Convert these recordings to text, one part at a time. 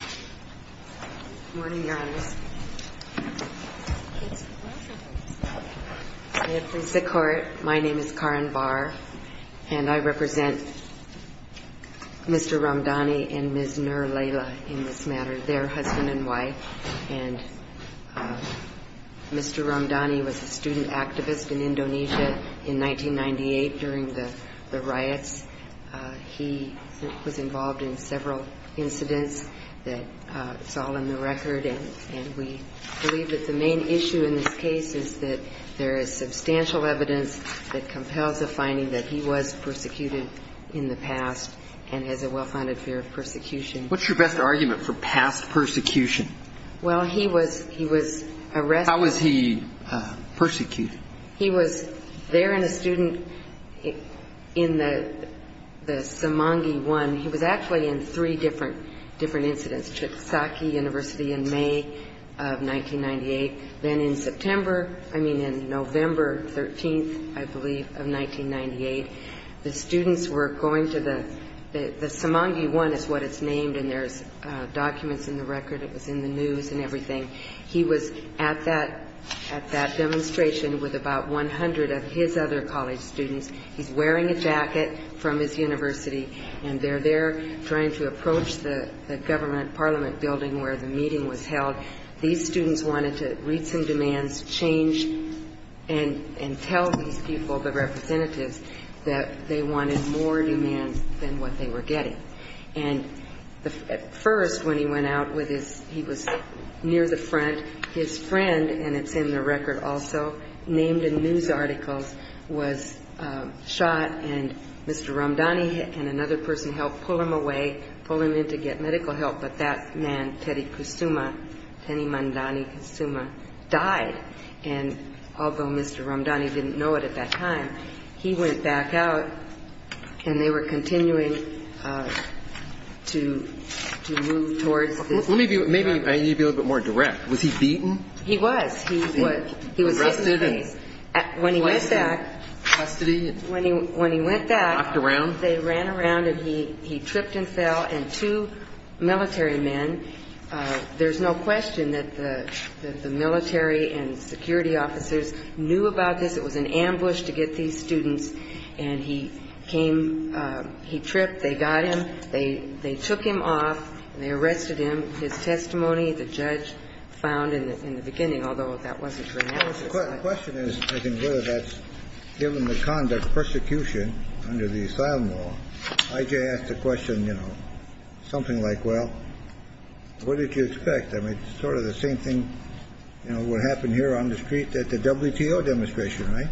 Good morning, Your Honor. It's a pleasure. May it please the Court, my name is Karin Barr, and I represent Mr. Ramdani and Ms. Nur Laila in this matter, their husband and wife. And Mr. Ramdani was a student activist in Indonesia in 1998 during the riots. He was involved in several incidents that it's all in the record. And we believe that the main issue in this case is that there is substantial evidence that compels a finding that he was persecuted in the past and has a well-founded fear of persecution. What's your best argument for past persecution? Well, he was arrested. How was he persecuted? He was there in a student in the Semangi 1. He was actually in three different incidents, Chiksaki University in May of 1998. Then in September, I mean in November 13th, I believe, of 1998, the students were going to the Semangi 1 is what it's named, and there's documents in the record. It was in the news and everything. He was at that demonstration with about 100 of his other college students. He's wearing a jacket from his university, and they're there trying to approach the government parliament building where the meeting was held. These students wanted to reach some demands, change, and tell these people, the representatives, that they wanted more demands than what they were getting. At first, when he went out, he was near the front. His friend, and it's in the record also, named in news articles, was shot, and Mr. Ramdani and another person helped pull him away, pull him in to get medical help. But that man, Teddy Kusuma, Teddy Mandani Kusuma, died. And although Mr. Ramdani didn't know it at that time, he went back out, and they were continuing to move towards this building. Maybe I need to be a little bit more direct. Was he beaten? He was. He was hit in the face. When he went back, when he went back, they ran around, and he tripped and fell, and two military men. There's no question that the military and security officers knew about this. It was an ambush to get these students, and he came. He tripped. They got him. They took him off, and they arrested him. His testimony, the judge found in the beginning, although that wasn't for analysis. The question is, I think, whether that's given the conduct of persecution under the asylum law. I.J. asked a question, you know, something like, well, what did you expect? I mean, it's sort of the same thing, you know, what happened here on the street at the WTO demonstration, right?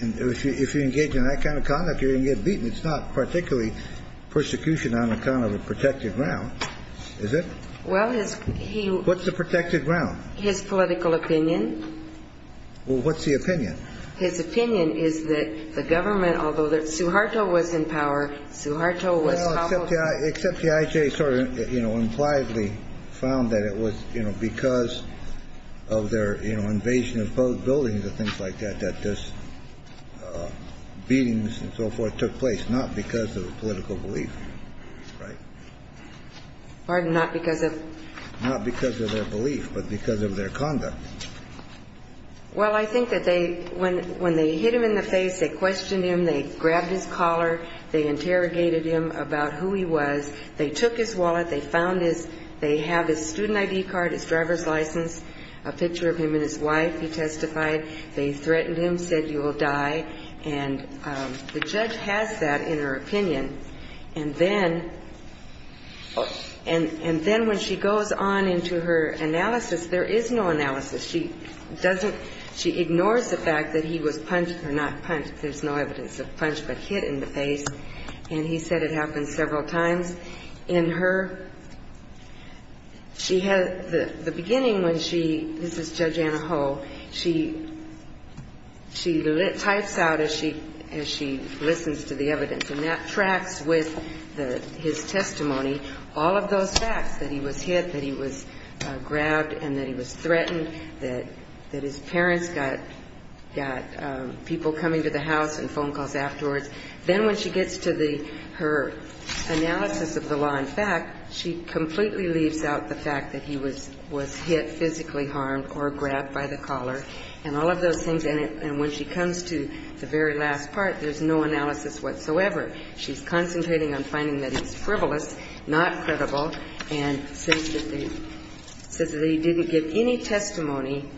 And if you engage in that kind of conduct, you're going to get beaten. It's not particularly persecution on account of a protected ground, is it? Well, his ‑‑ What's a protected ground? His political opinion. Well, what's the opinion? His opinion is that the government, although Suharto was in power, Suharto was ‑‑ Well, except the I.J. sort of, you know, impliedly found that it was, you know, because of their, you know, invasion of buildings and things like that, that these beatings and so forth took place, not because of political belief, right? Pardon? Not because of ‑‑ Not because of their belief, but because of their conduct. Well, I think that they, when they hit him in the face, they questioned him, they grabbed his collar, they interrogated him about who he was, they took his wallet, they found his ‑‑ they have his student ID card, his driver's license, a picture of him and his wife, he testified. They threatened him, said, you will die. And the judge has that in her opinion. And then when she goes on into her analysis, there is no analysis. She doesn't ‑‑ she ignores the fact that he was punched or not punched. There's no evidence of punch but hit in the face. And he said it happened several times. In her ‑‑ she has ‑‑ the beginning when she ‑‑ this is Judge Anaho, she types out as she listens to the evidence. And that tracks with his testimony all of those facts, that he was hit, that he was grabbed and that he was threatened, that his parents got people coming to the house and phone calls afterwards. Then when she gets to her analysis of the law in fact, she completely leaves out the fact that he was hit, physically harmed or grabbed by the collar and all of those things. And when she comes to the very last part, there's no analysis whatsoever. She's concentrating on finding that he's frivolous, not credible, and says that he didn't give any testimony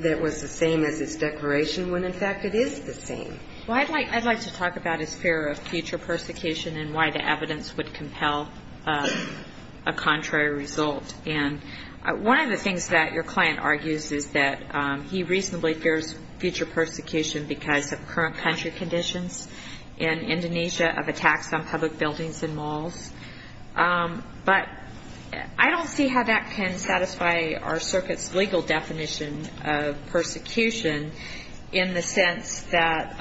that was the same as his declaration when, in fact, it is the same. Well, I'd like to talk about his fear of future persecution and why the evidence would compel a contrary result. And one of the things that your client argues is that he reasonably fears future persecution because of current country conditions in Indonesia of attacks on public buildings and malls. But I don't see how that can satisfy our circuit's legal definition of persecution in the sense that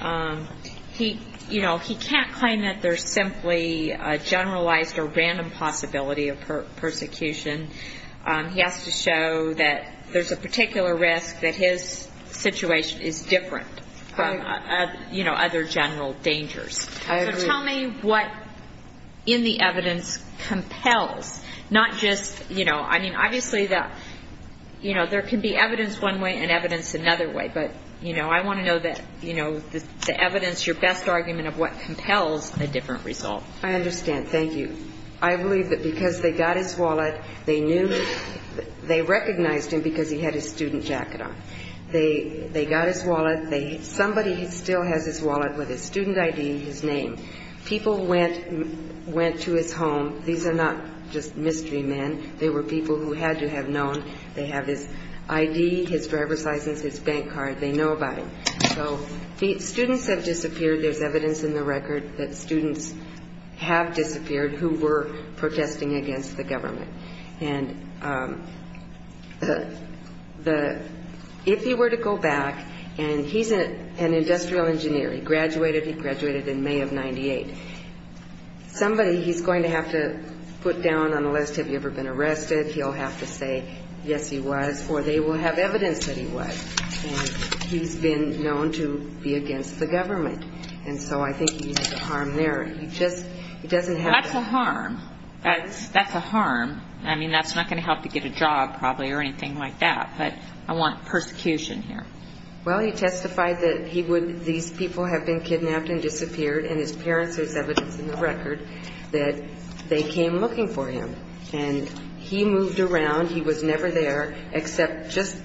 he, you know, he can't claim that there's simply a generalized or random possibility of persecution. He has to show that there's a particular risk that his situation is different from, you know, other general dangers. So tell me what in the evidence compels, not just, you know, I mean, obviously, you know, there can be evidence one way and evidence another way. But, you know, I want to know that, you know, the evidence, your best argument of what compels a different result. I understand. Thank you. I believe that because they got his wallet, they knew, they recognized him because he had his student jacket on. They got his wallet. Somebody still has his wallet with his student ID, his name. People went to his home. These are not just mystery men. They were people who had to have known. They have his ID, his driver's license, his bank card. They know about him. So students have disappeared. There's evidence in the record that students have disappeared who were protesting against the government. And if he were to go back, and he's an industrial engineer. He graduated. He graduated in May of 98. Somebody he's going to have to put down on the list, have you ever been arrested? He'll have to say, yes, he was, or they will have evidence that he was. And he's been known to be against the government. And so I think he's a harm there. He just doesn't have to. That's a harm. That's a harm. I mean, that's not going to help to get a job, probably, or anything like that. But I want persecution here. Well, he testified that he would, these people have been kidnapped and disappeared. And his parents, there's evidence in the record that they came looking for him. And he moved around. He was never there, except just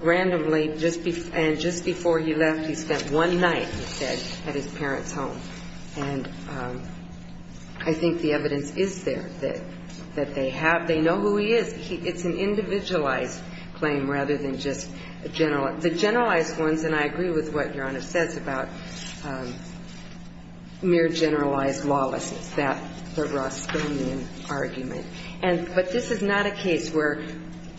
randomly, and just before he left, he spent one night, he said, at his parents' home. And I think the evidence is there, that they have, they know who he is. It's an individualized claim rather than just general. The generalized ones, and I agree with what Your Honor says about mere generalized lawlessness. It's that, the Rothschildian argument. But this is not a case where,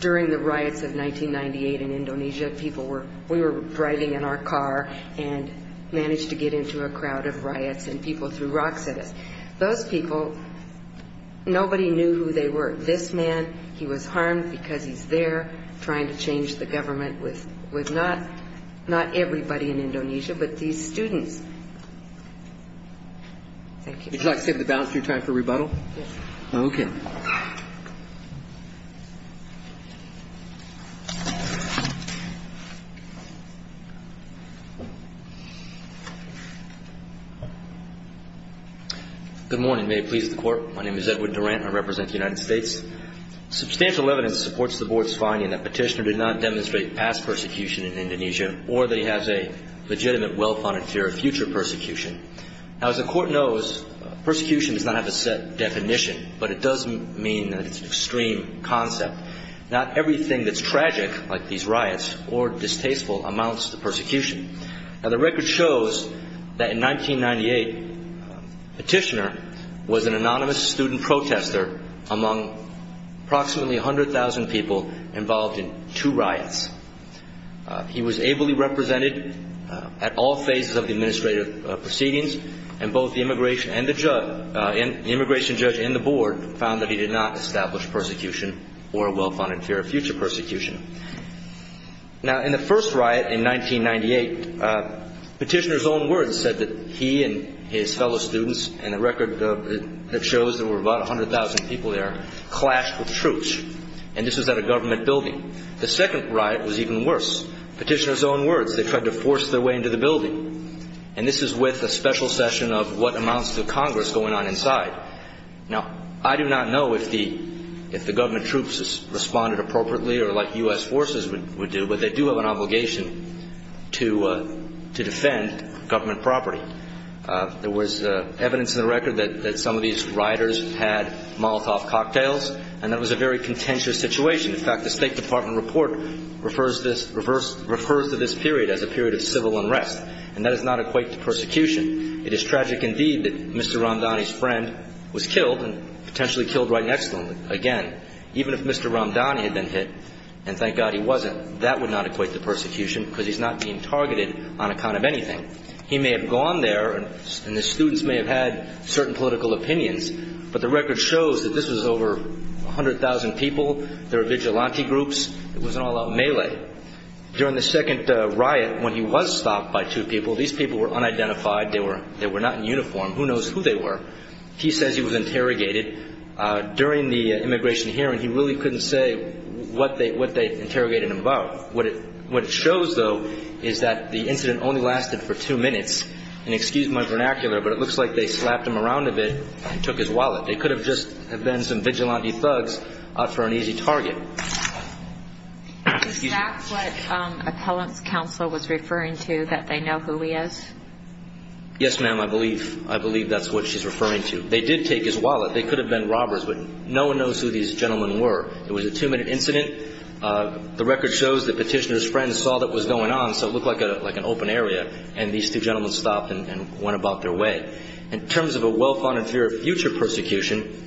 during the riots of 1998 in Indonesia, people were, we were driving in our car and managed to get into a crowd of riots and people threw rocks at us. Those people, nobody knew who they were. This man, he was harmed because he's there trying to change the government with not everybody in Indonesia, but these students. Thank you. Would you like to take the balance of your time for rebuttal? Yes. Okay. Good morning. May it please the Court. My name is Edward Durant. I represent the United States. Substantial evidence supports the Board's finding that Petitioner did not demonstrate past persecution in Indonesia or that he has a legitimate, well-founded fear of future persecution. Now, as the Court knows, persecution does not have a set definition, but it does mean that it's an extreme concept. Not everything that's tragic, like these riots, or distasteful amounts to persecution. Now, the record shows that in 1998, Petitioner was an anonymous student protester among approximately 100,000 people involved in two riots. He was ably represented at all phases of the administrative proceedings, and both the immigration judge and the Board found that he did not establish persecution or a well-founded fear of future persecution. Now, in the first riot in 1998, Petitioner's own words said that he and his fellow students, and the record shows there were about 100,000 people there, clashed with troops, and this was at a government building. The second riot was even worse. Petitioner's own words. They tried to force their way into the building, and this is with a special session of what amounts to Congress going on inside. Now, I do not know if the government troops responded appropriately or like U.S. forces would do, but they do have an obligation to defend government property. There was evidence in the record that some of these rioters had Molotov cocktails, and that was a very contentious situation. In fact, the State Department report refers to this period as a period of civil unrest, and that does not equate to persecution. It is tragic indeed that Mr. Ramdani's friend was killed and potentially killed right next to him again. Even if Mr. Ramdani had been hit, and thank God he wasn't, that would not equate to persecution because he's not being targeted on account of anything. He may have gone there, and the students may have had certain political opinions, but the record shows that this was over 100,000 people. There were vigilante groups. It was an all-out melee. During the second riot, when he was stopped by two people, these people were unidentified. They were not in uniform. Who knows who they were? He says he was interrogated during the immigration hearing. He really couldn't say what they interrogated him about. What it shows, though, is that the incident only lasted for two minutes, and excuse my vernacular, but it looks like they slapped him around a bit and took his wallet. They could have just been some vigilante thugs out for an easy target. Is that what appellant's counsel was referring to, that they know who he is? Yes, ma'am, I believe that's what she's referring to. They did take his wallet. They could have been robbers, but no one knows who these gentlemen were. It was a two-minute incident. The record shows that petitioner's friend saw what was going on, so it looked like an open area, and these two gentlemen stopped and went about their way. In terms of a well-founded fear of future persecution,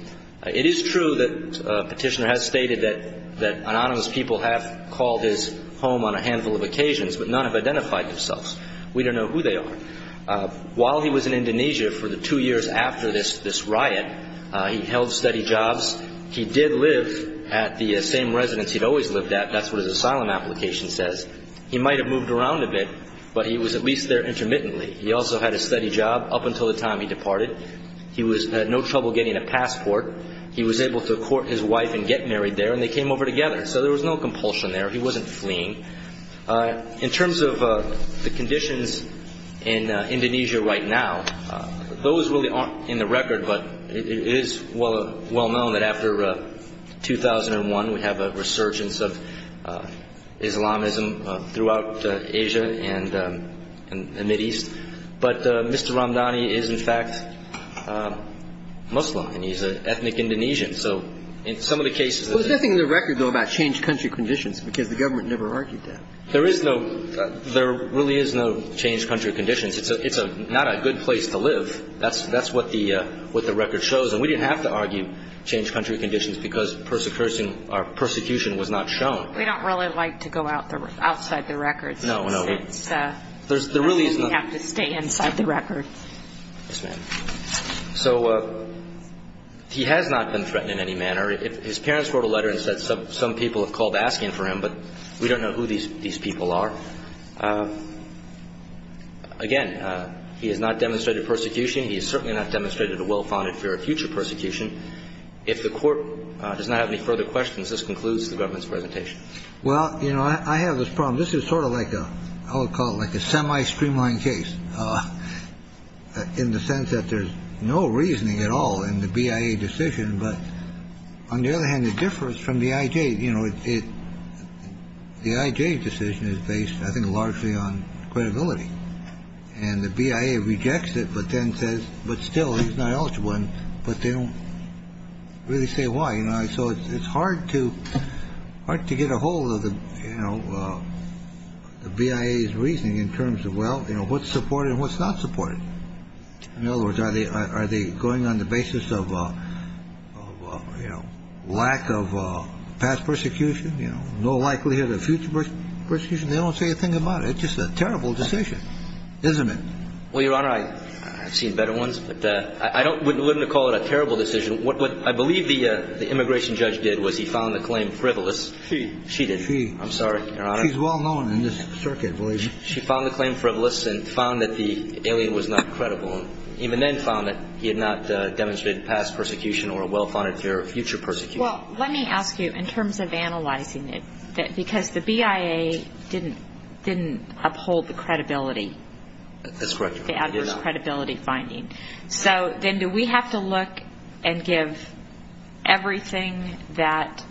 it is true that petitioner has stated that anonymous people have called his home on a handful of occasions, but none have identified themselves. We don't know who they are. While he was in Indonesia for the two years after this riot, he held steady jobs. He did live at the same residence he'd always lived at. That's what his asylum application says. He might have moved around a bit, but he was at least there intermittently. He also had a steady job up until the time he departed. He had no trouble getting a passport. He was able to court his wife and get married there, and they came over together. So there was no compulsion there. He wasn't fleeing. In terms of the conditions in Indonesia right now, those really aren't in the record, but it is well known that after 2001, we have a resurgence of Islamism throughout Asia and the Mideast. But Mr. Ramdhani is, in fact, Muslim, and he's an ethnic Indonesian. So in some of the cases of the ---- There's nothing in the record, though, about changed country conditions because the government never argued that. There is no ---- there really is no changed country conditions. It's not a good place to live. That's what the record shows. And we didn't have to argue changed country conditions because persecution was not shown. We don't really like to go outside the records. No, no. We have to stay inside the records. Yes, ma'am. So he has not been threatened in any manner. His parents wrote a letter and said some people have called asking for him, but we don't know who these people are. Again, he has not demonstrated persecution. He has certainly not demonstrated a well-founded fear of future persecution. If the Court does not have any further questions, this concludes the government's presentation. Well, you know, I have this problem. This is sort of like a ---- I'll call it like a semi-streamlined case in the sense that there's no reasoning at all in the BIA decision. But on the other hand, the difference from the IJ, you know, the IJ decision is based, I think, largely on credibility. And the BIA rejects it, but then says, but still, he's not eligible. But they don't really say why. So it's hard to get a hold of the BIA's reasoning in terms of, well, you know, what's supported and what's not supported. In other words, are they going on the basis of, you know, lack of past persecution, you know, no likelihood of future persecution? They don't say a thing about it. It's just a terrible decision, isn't it? Well, Your Honor, I've seen better ones, but I wouldn't call it a terrible decision. What I believe the immigration judge did was he found the claim frivolous. She. She did. She. I'm sorry, Your Honor. She's well-known in this circuit, believe me. She found the claim frivolous and found that the alien was not credible, and even then found that he had not demonstrated past persecution or a well-founded fear of future persecution. Well, let me ask you, in terms of analyzing it, because the BIA didn't uphold the credibility. That's correct, Your Honor. The adverse credibility finding. So then do we have to look and give everything that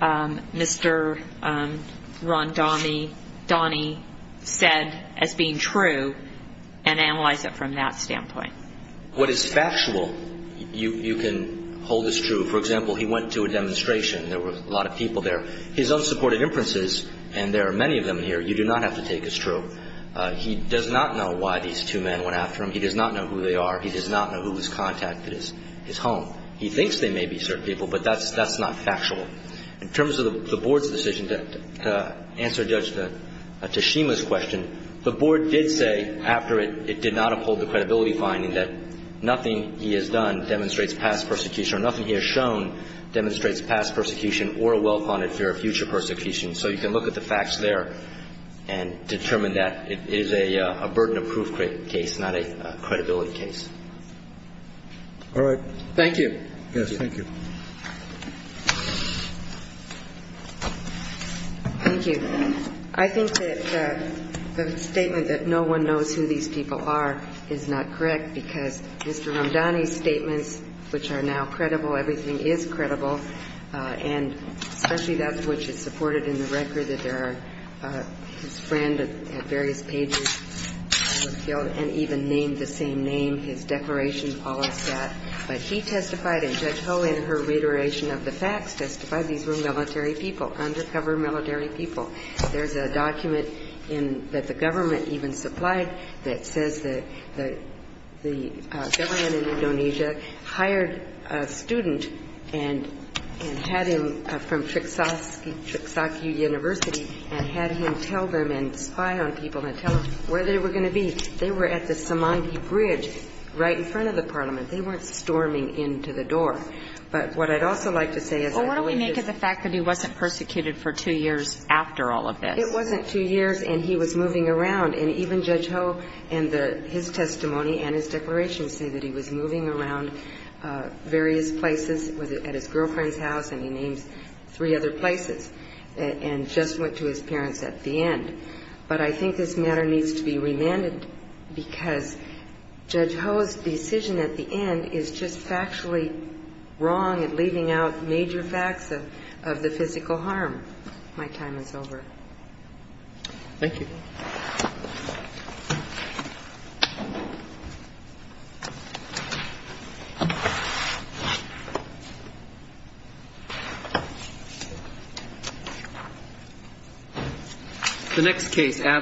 Mr. Rondani said as being true and analyze it from that standpoint? What is factual, you can hold as true. For example, he went to a demonstration. There were a lot of people there. His unsupported inferences, and there are many of them here, you do not have to take as true. He does not know why these two men went after him. He does not know who they are. He does not know who was contacted at his home. He thinks they may be certain people, but that's not factual. In terms of the Board's decision to answer Judge Tashima's question, the Board did say after it, it did not uphold the credibility finding that nothing he has done demonstrates past persecution or nothing he has shown demonstrates past persecution or a well-founded fear of future persecution. So you can look at the facts there and determine that it is a burden of proof case, not a credibility case. All right. Thank you. Yes, thank you. Thank you. I think that the statement that no one knows who these people are is not correct, because Mr. Rondani's statements, which are now credible, everything is credible, and especially that which is supported in the record that there are his friend at various pages was killed and even named the same name, his declaration, all of that. But he testified and Judge Ho in her reiteration of the facts testified these were military people, undercover military people. There's a document that the government even supplied that says that the government in Indonesia hired a student and had him from Triksaki University and had him tell them and spy on people and tell them where they were going to be. They were at the Semanggi Bridge right in front of the parliament. They weren't storming into the door. But what I'd also like to say is I believe this was the case. So what do we make of the fact that he wasn't persecuted for two years after all of this? It wasn't two years, and he was moving around. And even Judge Ho in the his testimony and his declaration say that he was moving around various places at his girlfriend's house and he names three other places and just went to his parents at the end. But I think this matter needs to be remanded because Judge Ho's decision at the end is just factually wrong and leaving out major facts of the physical harm. My time is over. Thank you.